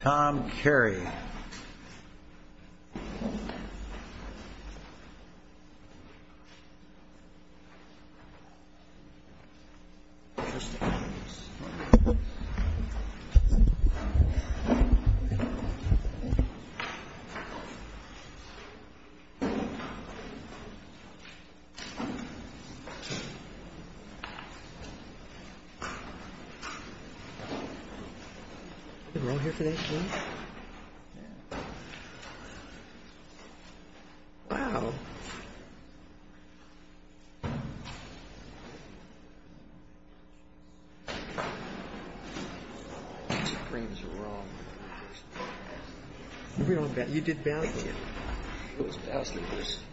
Tom Carey. Yeah. Okay. We're gonna go here today.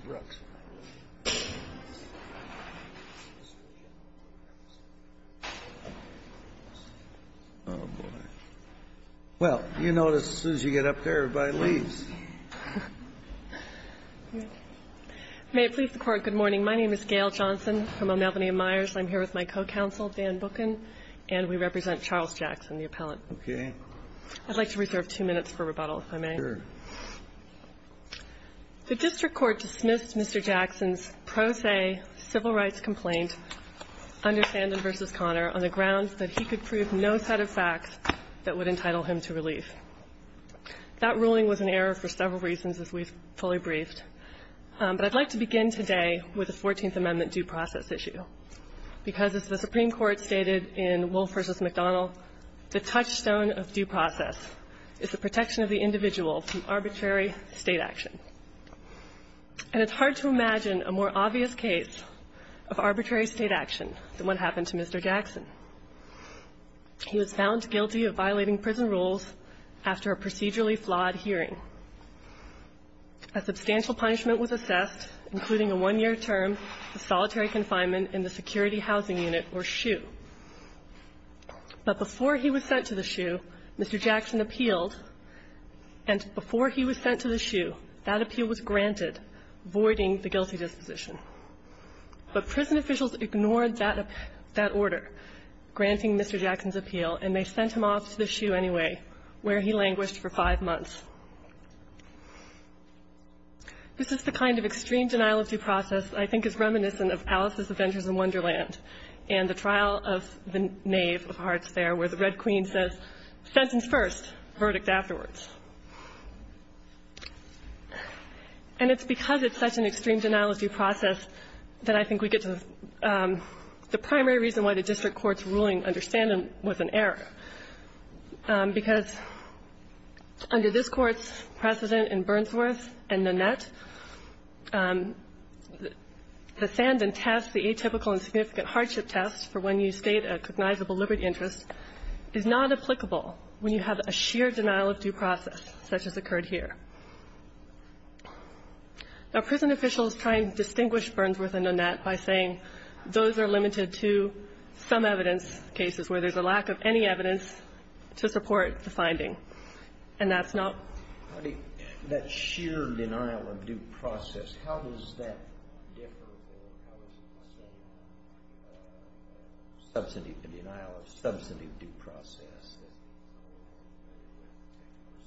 Wow. Well, you know, as soon as you get up there, everybody leaves. Okay. May it please the court. Good morning. My name is Gail Johnson from Albany and Myers. I'm here with my co-counsel, Dan Booken, and we represent Charles Jackson, the appellant. Okay. I'd like to reserve two minutes for rebuttal, if I may. Sure. The district court dismissed Mr. Jackson's pro se civil rights complaint, Anderson v. Connor, on the grounds that he could prove no set of facts that would entitle him to relief. That ruling was an error for several reasons, as we've fully briefed. But I'd like to begin today with the 14th Amendment due process issue, because as the Supreme Court stated in Wolf v. McDonnell, the touchstone of due process is the protection of the individual from arbitrary state action. And it's hard to imagine a more obvious case of arbitrary state action than what happened to Mr. Jackson. He was found guilty of violating prison rules after a procedurally flawed hearing. A substantial punishment was assessed, including a one-year term of solitary confinement in the Security Housing Unit, or SHU. But before he was sent to the SHU, Mr. Jackson appealed, and before he was sent to the SHU, that appeal was granted, voiding the guilty disposition. But prison officials ignored that order, granting Mr. Jackson's appeal, and they sent him off to the SHU anyway, where he languished for five months. This is the kind of extreme denial of due process I think is reminiscent of Alice's Adventures in Wonderland and the trial of the Knave of Hearts there, where the Red Queen says, sentence first, verdict afterwards. And it's because it's such an extreme denial of due process that I think we get to the primary reason why the district court's ruling under Sandan was an error, because under this Court's precedent in Burnsworth and Nanette, the Sandan test, the atypical and significant hardship test for when you state a cognizable liberty interest, is not applicable when you have a sheer denial of due process such as occurred here. Now, prison officials try and distinguish Burnsworth and Nanette by saying those are limited to some evidence cases where there's a lack of any evidence to support the finding, and that's not the case. So is this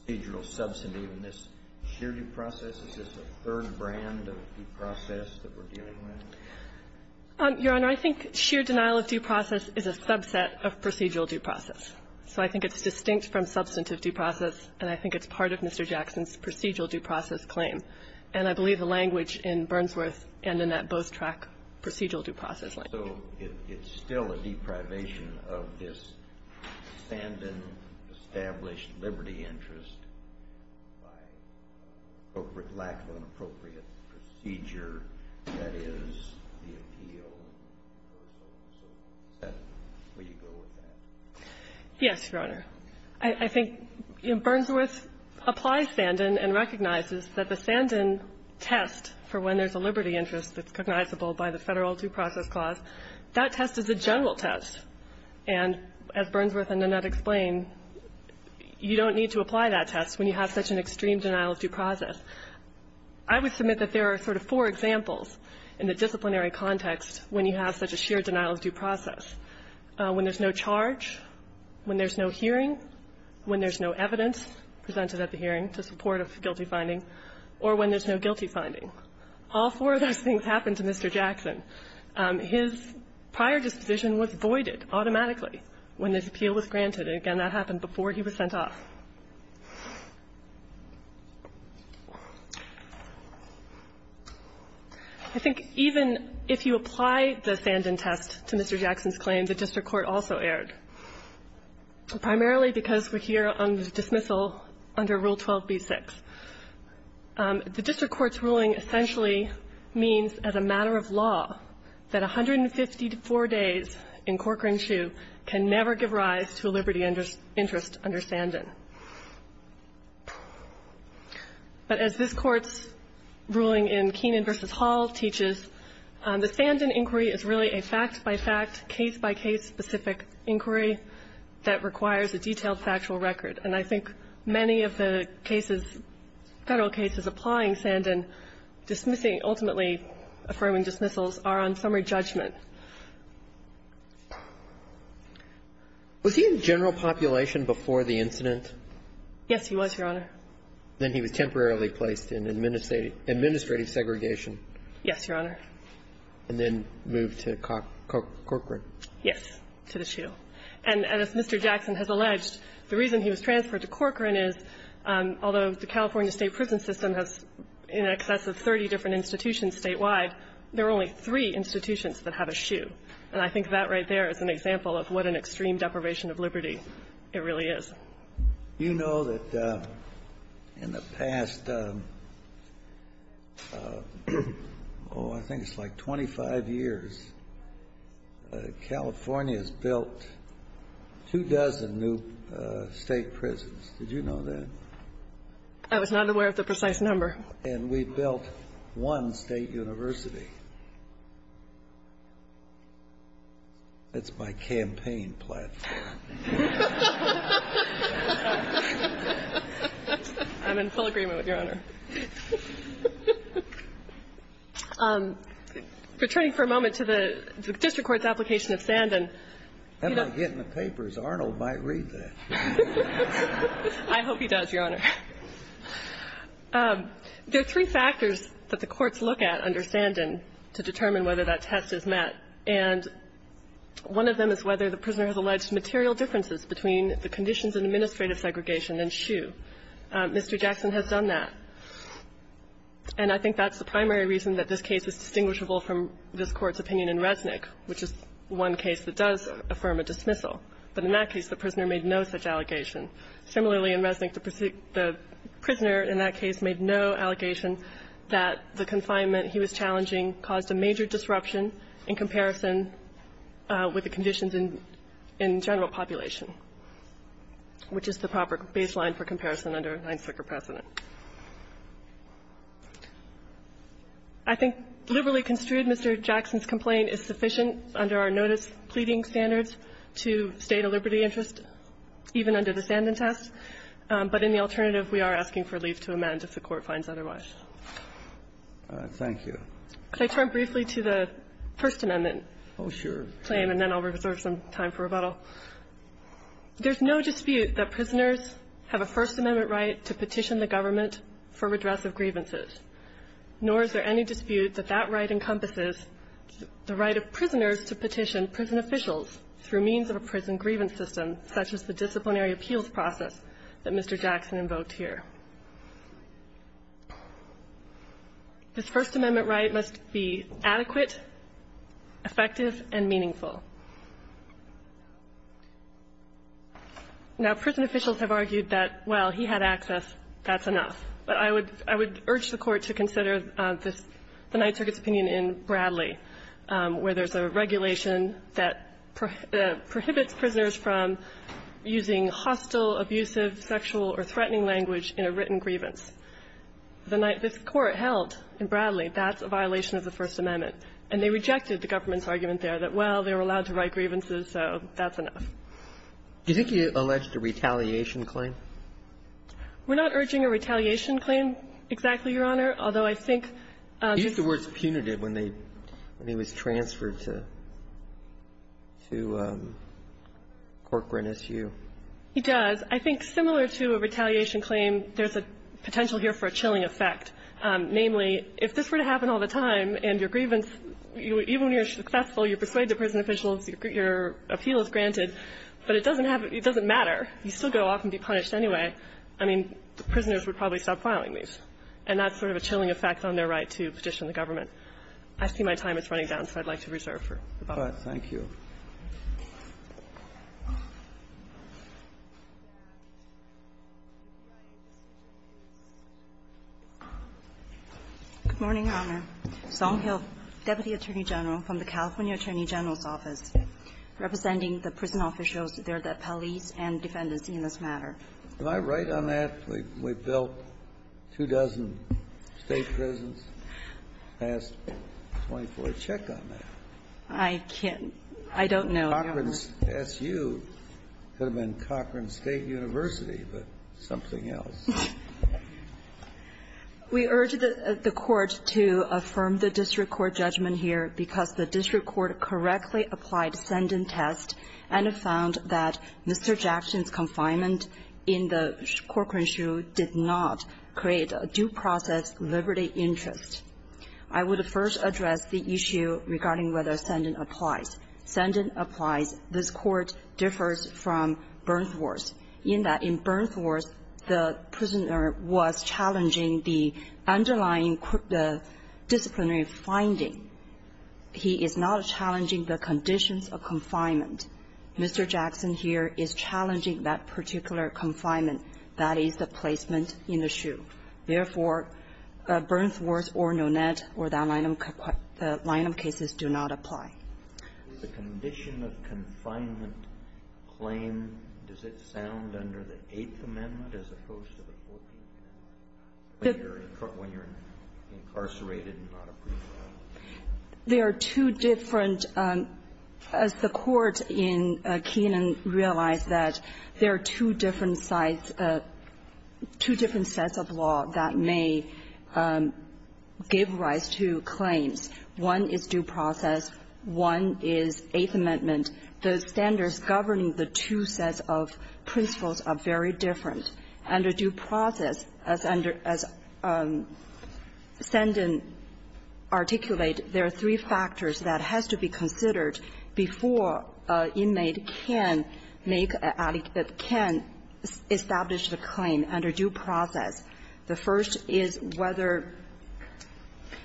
a procedural substantive in this sheer due process? Is this a third brand of due process that we're dealing with? Your Honor, I think sheer denial of due process is a subset of procedural due process. So I think it's distinct from substantive due process, and I think it's part of Mr. Jackson's procedural due process claim. And I believe the language in Burnsworth and Nanette both track procedural due process language. So it's still a deprivation of this Sandan-established liberty interest by a lack of an appropriate procedure that is the appeal. So is that where you go with that? Yes, Your Honor. I think Burnsworth applies Sandan and recognizes that the Sandan test for when there's a liberty interest that's recognizable by the Federal Due Process Clause, that test is a general test. And as Burnsworth and Nanette explain, you don't need to apply that test when you have such an extreme denial of due process. I would submit that there are sort of four examples in the disciplinary context when you have such a sheer denial of due process. When there's no charge, when there's no hearing, when there's no evidence presented at the hearing to support a guilty finding, or when there's no guilty finding. All four of those things happen to Mr. Jackson. His prior disposition was voided automatically when this appeal was granted. And again, that happened before he was sent off. I think even if you apply the Sandan test to Mr. Jackson's claim, the district court also erred, primarily because we're here on the dismissal under Rule 12b-6. The district court's ruling essentially means, as a matter of law, that 154 days in Corcoran Shoe can never give rise to a liberty interest under Sandan. But as this Court's ruling in Keenan v. Hall teaches, the Sandan inquiry is really a fact-by-fact, case-by-case specific inquiry that requires a detailed factual record. And I think many of the cases, Federal cases, applying Sandan dismissing ultimately affirming dismissals are on summary judgment. Was he in general population before the incident? Yes, he was, Your Honor. Then he was temporarily placed in administrative segregation. Yes, Your Honor. Yes, to the Shoe. And as Mr. Jackson has alleged, the reason he was transferred to Corcoran is, although the California State prison system has in excess of 30 different institutions statewide, there are only three institutions that have a Shoe. And I think that right there is an example of what an extreme deprivation of liberty it really is. You know that in the past, oh, I think it's like 25 years, California has built two dozen new State prisons. Did you know that? I was not aware of the precise number. And we've built one State university. It's my campaign platform. I'm in full agreement with Your Honor. Returning for a moment to the district court's application of Sandan. I'm not getting the papers. Arnold might read that. I hope he does, Your Honor. There are three factors that the courts look at under Sandan to determine whether that test is met. And one of them is whether the prisoner has alleged material differences between the conditions in administrative segregation and Shoe. Mr. Jackson has done that. And I think that's the primary reason that this case is distinguishable from this case that does affirm a dismissal. But in that case, the prisoner made no such allegation. Similarly, in Resnick, the prisoner in that case made no allegation that the confinement he was challenging caused a major disruption in comparison with the conditions in general population, which is the proper baseline for comparison under Ninesucker precedent. I think liberally construed, Mr. Jackson's complaint is sufficient under our notice pleading standards to state a liberty interest even under the Sandan test. But in the alternative, we are asking for leave to amend if the Court finds otherwise. Thank you. Could I turn briefly to the First Amendment? Oh, sure. And then I'll reserve some time for rebuttal. There's no dispute that prisoners have a First Amendment right to petition the government for redress of grievances, nor is there any dispute that that right encompasses the right of prisoners to petition prison officials through means of a prison grievance system such as the disciplinary appeals process that Mr. Jackson invoked here. This First Amendment right must be adequate, effective, and meaningful. Now, prison officials have argued that, well, he had access, that's enough. But I would urge the Court to consider the Ninesucker's opinion in Bradley, where there's a regulation that prohibits prisoners from using hostile, abusive, sexual or threatening language in a written grievance. This Court held in Bradley that's a violation of the First Amendment, and they rejected the government's argument there that, well, they were allowed to write grievances, so that's enough. Do you think you alleged a retaliation claim? We're not urging a retaliation claim exactly, Your Honor, although I think the words punitive when they when he was transferred to to Court Grant S.U. He does. I think similar to a retaliation claim, there's a potential here for a chilling effect, namely if this were to happen all the time and your grievance, even when you're successful, you persuade the prison officials, your appeal is granted, but it doesn't have it doesn't matter. You still go off and be punished. Anyway, I mean, the prisoners would probably stop filing these, and that's sort of a chilling effect on their right to petition the government. I see my time is running down, so I'd like to reserve for the public. Thank you. Good morning, Your Honor. Song Hill, deputy attorney general from the California Attorney General's Office. Representing the prison officials, they're the police and defendants in this matter. Am I right on that? We've built two dozen State prisons? I asked 24 to check on that. I can't. I don't know, Your Honor. Cochran's S.U. could have been Cochran State University, but something else. We urge the Court to affirm the district court judgment here because the district court correctly applied send-and-test and found that Mr. Jackson's confinement in the Cochran S.U. did not create a due process liberty interest. I would first address the issue regarding whether send-and-applies. Send-and-applies, this Court differs from Bernthorst in that in Bernthorst, the prisoner was challenging the underlying disciplinary finding. He is not challenging the conditions of confinement. Mr. Jackson here is challenging that particular confinement, that is, the placement in the S.U. Therefore, Bernthorst or Nonet or that line of cases do not apply. Is the condition of confinement claim, does it sound under the Eighth Amendment as opposed to the Fourth Amendment, when you're incarcerated and not a prisoner? There are two different, as the Court in Kenan realized that, there are two different sides, two different sets of law that may give rise to claims. One is due process. One is Eighth Amendment. The standards governing the two sets of principles are very different. Under due process, as send-and-articulate, there are three factors that has to be considered before an inmate can establish the claim under due process. The first is whether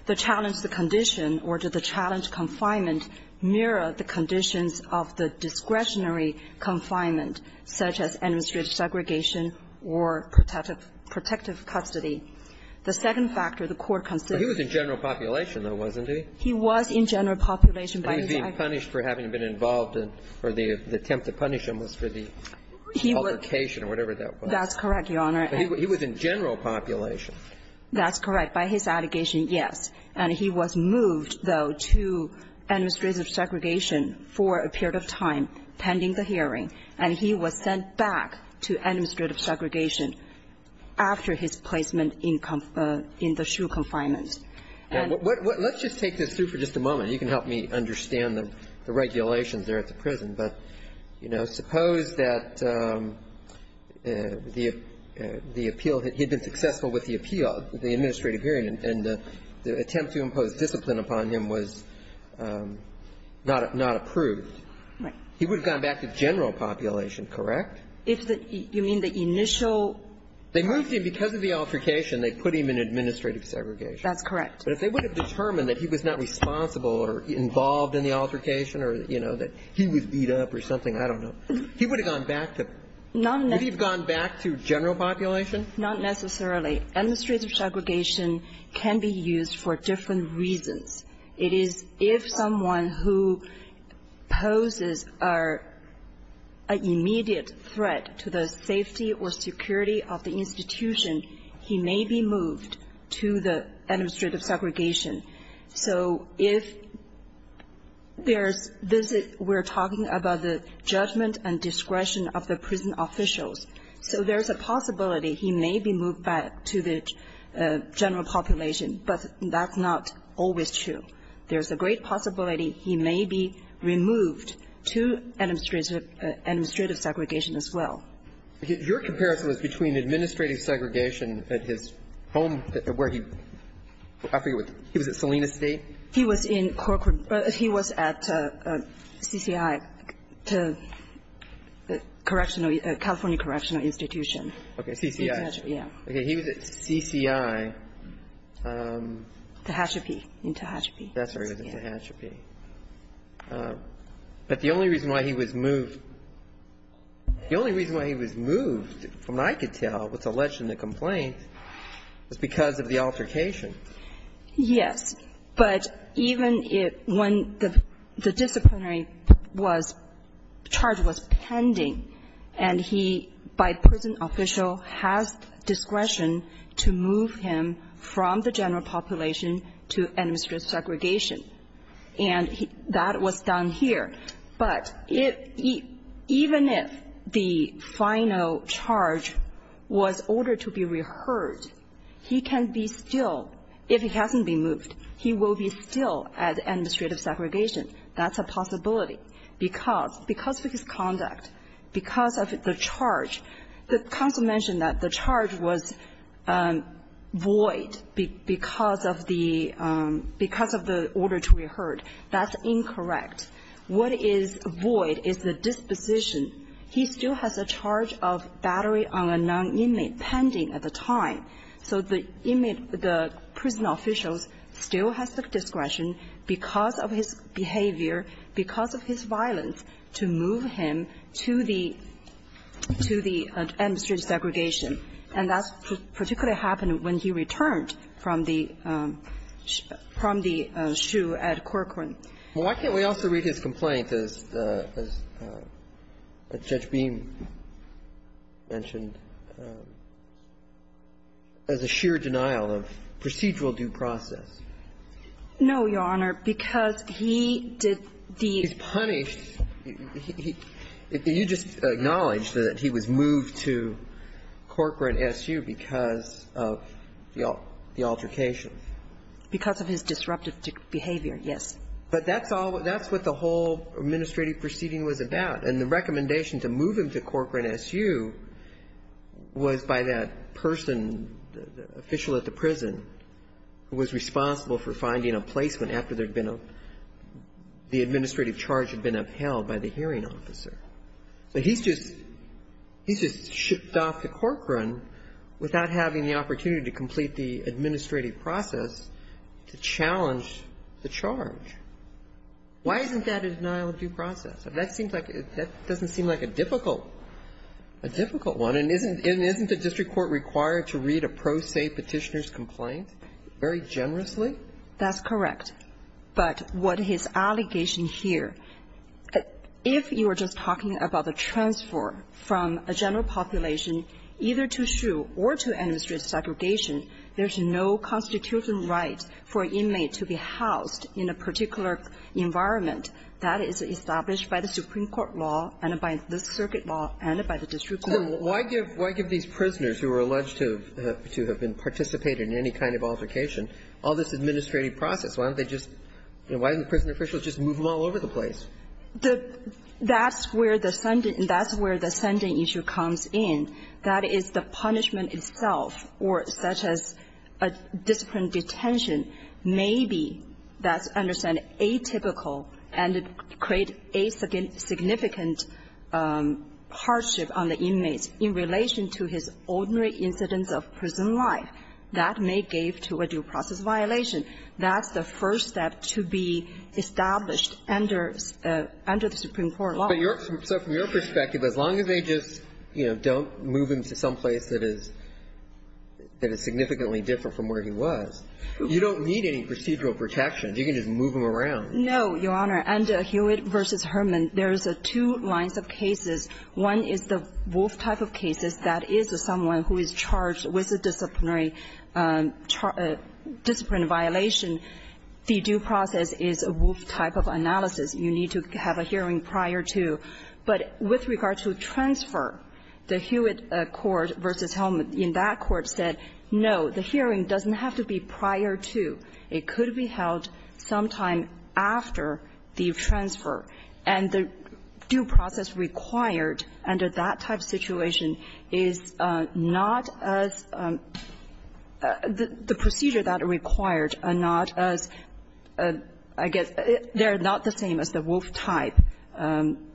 the challenge, the condition, or did the challenge confinement mirror the conditions of the discretionary confinement, such as administrative segregation or protective custody. The second factor the Court considers is the general population, though, wasn't he? He was in general population. He was being punished for having been involved in, or the attempt to punish him was for the altercation or whatever that was. That's correct, Your Honor. He was in general population. That's correct. By his allegation, yes. And he was moved, though, to administrative segregation for a period of time, pending the hearing. And he was sent back to administrative segregation after his placement in the SHU confinement. Let's just take this through for just a moment. You can help me understand the regulations there at the prison. But, you know, suppose that the appeal had been successful with the appeal, the administrative hearing, and the attempt to impose discipline upon him was not approved. Right. He would have gone back to general population, correct? You mean the initial? They moved him because of the altercation. They put him in administrative segregation. That's correct. But if they would have determined that he was not responsible or involved in the altercation or, you know, that he was beat up or something, I don't know. He would have gone back to general population? Not necessarily. Administrative segregation can be used for different reasons. It is if someone who poses an immediate threat to the safety or security of the institution, he may be moved to the administrative segregation. So if there's visit, we're talking about the judgment and discretion of the prison officials. So there's a possibility he may be moved back to the general population, but that's not always true. There's a great possibility he may be removed to administrative segregation as well. Your comparison was between administrative segregation at his home where he was at Salina State? He was in corporate. He was at CCI, California Correctional Institution. Okay. CCI. Yeah. Okay. He was at CCI. Tehachapi. In Tehachapi. That's where he was, in Tehachapi. But the only reason why he was moved, the only reason why he was moved, from what I could tell, was alleged in the complaint, was because of the altercation. Yes. But even when the disciplinary charge was pending, and he, by prison official, has discretion to move him from the general population to administrative segregation. And that was done here. But even if the final charge was ordered to be reheard, he can be still, if he hasn't been moved, he will be still at administrative segregation. That's a possibility. Because of his conduct, because of the charge, the counsel mentioned that the charge was void because of the order to be heard. That's incorrect. What is void is the disposition. He still has a charge of battery on a non-inmate pending at the time. So the inmate, the prison officials, still has the discretion, because of his behavior, because of his violence, to move him to the administrative segregation. And that particularly happened when he returned from the SHU at Corcoran. Well, why can't we also read his complaint, as Judge Beam mentioned, as a sheer denial of procedural due process? No, Your Honor, because he did the ---- He's punished. He just acknowledged that he was moved to Corcoran SHU because of the altercation. Because of his disruptive behavior, yes. But that's all ---- that's what the whole administrative proceeding was about. And the recommendation to move him to Corcoran SHU was by that person, the official at the prison, who was responsible for finding a placement after there had been a ---- the administrative charge had been upheld by the hearing officer. So he's just ---- he's just shipped off to Corcoran without having the opportunity to complete the administrative process to challenge the charge. Why isn't that a denial of due process? That seems like ---- that doesn't seem like a difficult one. And isn't the district court required to read a pro se Petitioner's complaint very generously? That's correct. But what his allegation here, if you are just talking about a transfer from a general population either to SHU or to administrative segregation, there's no constitutional right for an inmate to be housed in a particular environment that is established by the Supreme Court law and by the circuit law and by the district court. Why give these prisoners who are alleged to have been participated in any kind of altercation all this administrative process? Why don't they just ---- why didn't the prison officials just move him all over the place? That's where the sending issue comes in. That is, the punishment itself, or such as a discipline detention, may be, that's understand, atypical and create a significant hardship on the inmates in relation to his ordinary incidence of prison life. That may give to a due process violation. That's the first step to be established under the Supreme Court law. But your ---- so from your perspective, as long as they just, you know, don't move him to someplace that is significantly different from where he was, you don't need any procedural protections. You can just move him around. No, Your Honor. Under Hewitt v. Herman, there's two lines of cases. One is the Wolf type of cases. That is someone who is charged with a disciplinary ---- disciplinary violation. The due process is a Wolf type of analysis. You need to have a hearing prior to. But with regard to transfer, the Hewitt court v. Herman in that court said, no, the hearing doesn't have to be prior to. It could be held sometime after the transfer. And the due process required under that type situation is not as ---- the procedure that are required are not as ---- I guess they are not the same as the Wolf type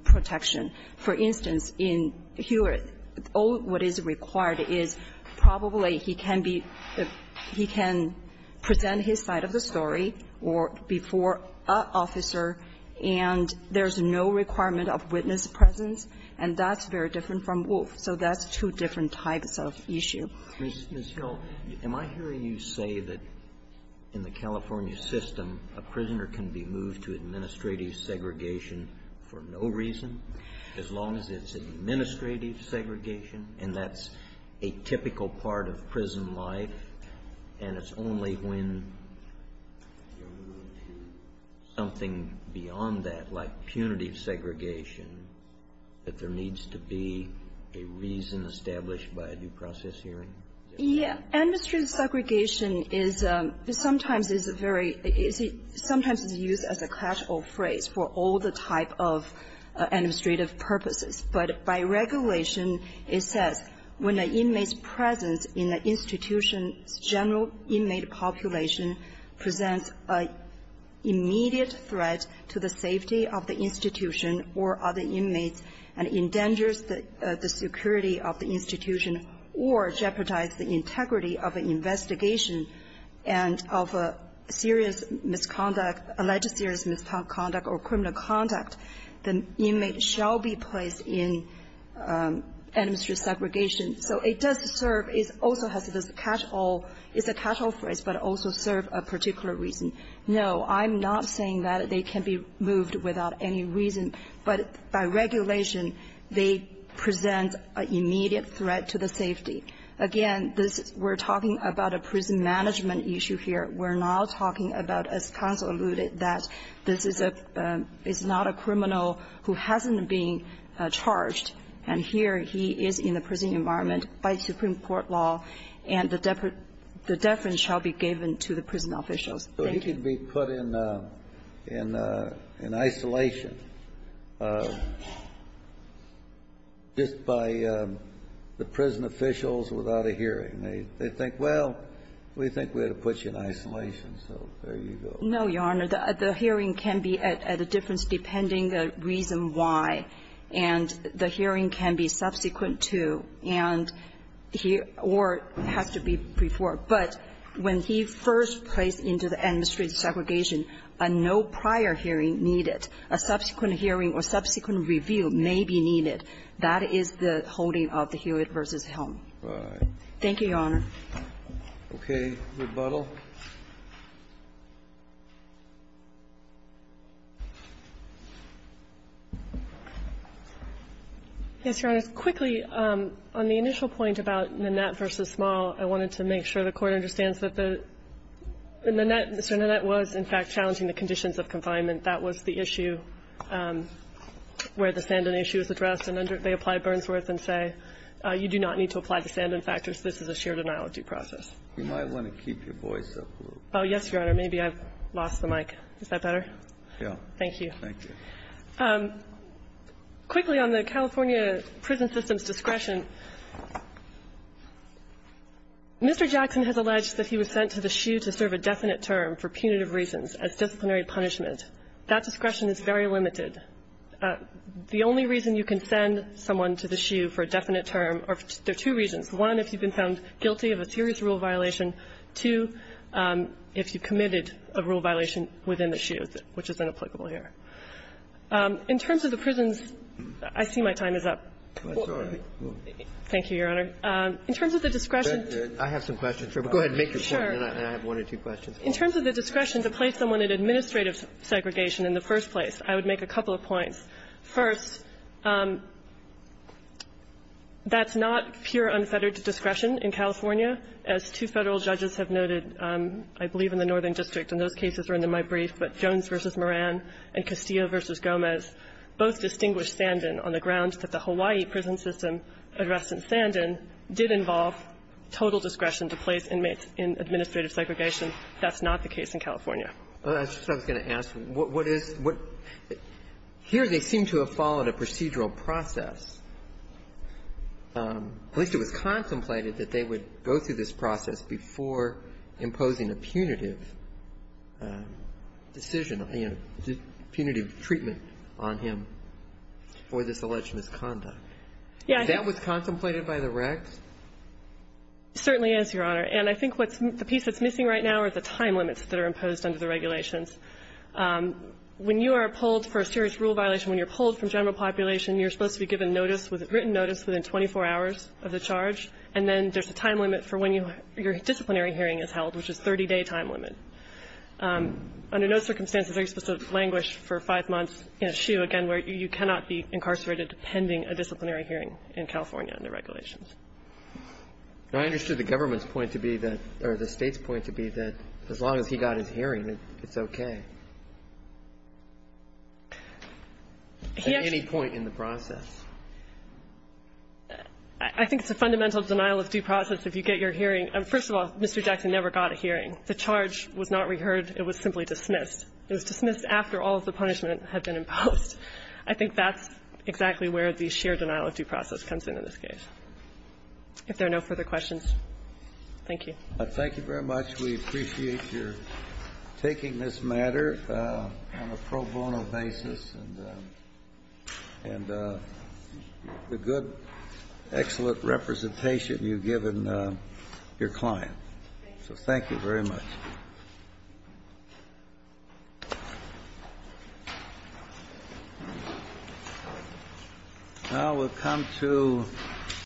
protection. For instance, in Hewitt, all that is required is probably he can be ---- he can present his side of the story or before an officer, and there's no requirement of witness presence, and that's very different from Wolf. So that's two different types of issue. Ms. Hill, am I hearing you say that in the California system, a prisoner can be moved to administrative segregation for no reason, as long as it's administrative segregation, and that's a typical part of prison life, and it's only when you move to something beyond that, like punitive segregation, that there needs to be a reason established by a due process hearing? Yeah. Administrative segregation is sometimes a very easy ---- sometimes it's used as a casual phrase for all the type of administrative purposes. But by regulation, it says when an inmate's presence in the institution's general inmate population presents an immediate threat to the safety of the institution or other inmates and endangers the security of the institution or jeopardizes the integrity of an investigation and of a serious misconduct, alleged serious misconduct or criminal conduct, the inmate shall be placed in administrative segregation. So it does serve as also has this casual ---- it's a casual phrase, but also serves a particular reason. No, I'm not saying that they can be moved without any reason, but by regulation, they present an immediate threat to the safety. Again, this is ---- we're talking about a prison management issue here. We're not talking about, as counsel alluded, that this is a ---- is not a criminal who hasn't been charged, and here he is in the prison environment by supreme court law, and the deference shall be given to the prison officials. Thank you. The hearing can be at a difference depending on the reason why, and the hearing can be subsequent to and he or has to be before. But when he first placed into the administrative segregation, he said, well, you know, I'm going to put you in isolation. So when you are moving from the administrative segregation, a no prior hearing needed, a subsequent hearing or subsequent review may be needed. That is the holding of the Hewitt v. Helm. Thank you, Your Honor. Okay. Yes, Your Honor. Just quickly, on the initial point about Nanette v. Small, I wanted to make sure the Court understands that the Nanette, Mr. Nanette, was in fact challenging the conditions of confinement. That was the issue where the Sandin issue was addressed. And they applied Burnsworth and say, you do not need to apply the Sandin factors. This is a shared analogy process. You might want to keep your voice up a little. Oh, yes, Your Honor. Maybe I've lost the mic. Is that better? Yeah. Thank you. Thank you. Quickly, on the California prison system's discretion, Mr. Jackson has alleged that he was sent to the SHU to serve a definite term for punitive reasons as disciplinary punishment. That discretion is very limited. The only reason you can send someone to the SHU for a definite term, there are two reasons. One, if you've been found guilty of a serious rule violation. Two, if you committed a rule violation within the SHU, which is inapplicable here. In terms of the prisons, I see my time is up. Thank you, Your Honor. In terms of the discretion. I have some questions. Go ahead and make your point, and I have one or two questions. In terms of the discretion to place someone in administrative segregation in the first place, I would make a couple of points. First, that's not pure unfettered discretion in California. As two Federal judges have noted, I believe in the Northern District, and those in Castillo v. Gomez both distinguished Sandin on the grounds that the Hawaii prison system addressed in Sandin did involve total discretion to place inmates in administrative segregation. That's not the case in California. I was just going to ask, what is the --? Here they seem to have followed a procedural process. At least it was contemplated that they would go through this process before imposing a punitive decision and punitive treatment on him for this alleged misconduct. Yeah. That was contemplated by the recs? It certainly is, Your Honor. And I think what's the piece that's missing right now are the time limits that are imposed under the regulations. When you are pulled for a serious rule violation, when you're pulled from general population, you're supposed to be given notice, written notice within 24 hours of the Under no circumstances are you supposed to languish for five months in a SHU, again, where you cannot be incarcerated pending a disciplinary hearing in California under regulations. I understood the government's point to be that, or the State's point to be that as long as he got his hearing, it's okay. At any point in the process. I think it's a fundamental denial of due process if you get your hearing. First of all, Mr. Jackson never got a hearing. The charge was not reheard. It was simply dismissed. It was dismissed after all of the punishment had been imposed. I think that's exactly where the sheer denial of due process comes in in this case. If there are no further questions, thank you. Thank you very much. We appreciate your taking this matter on a pro bono basis. And the good, excellent representation you've given your client. Thank you. So thank you very much.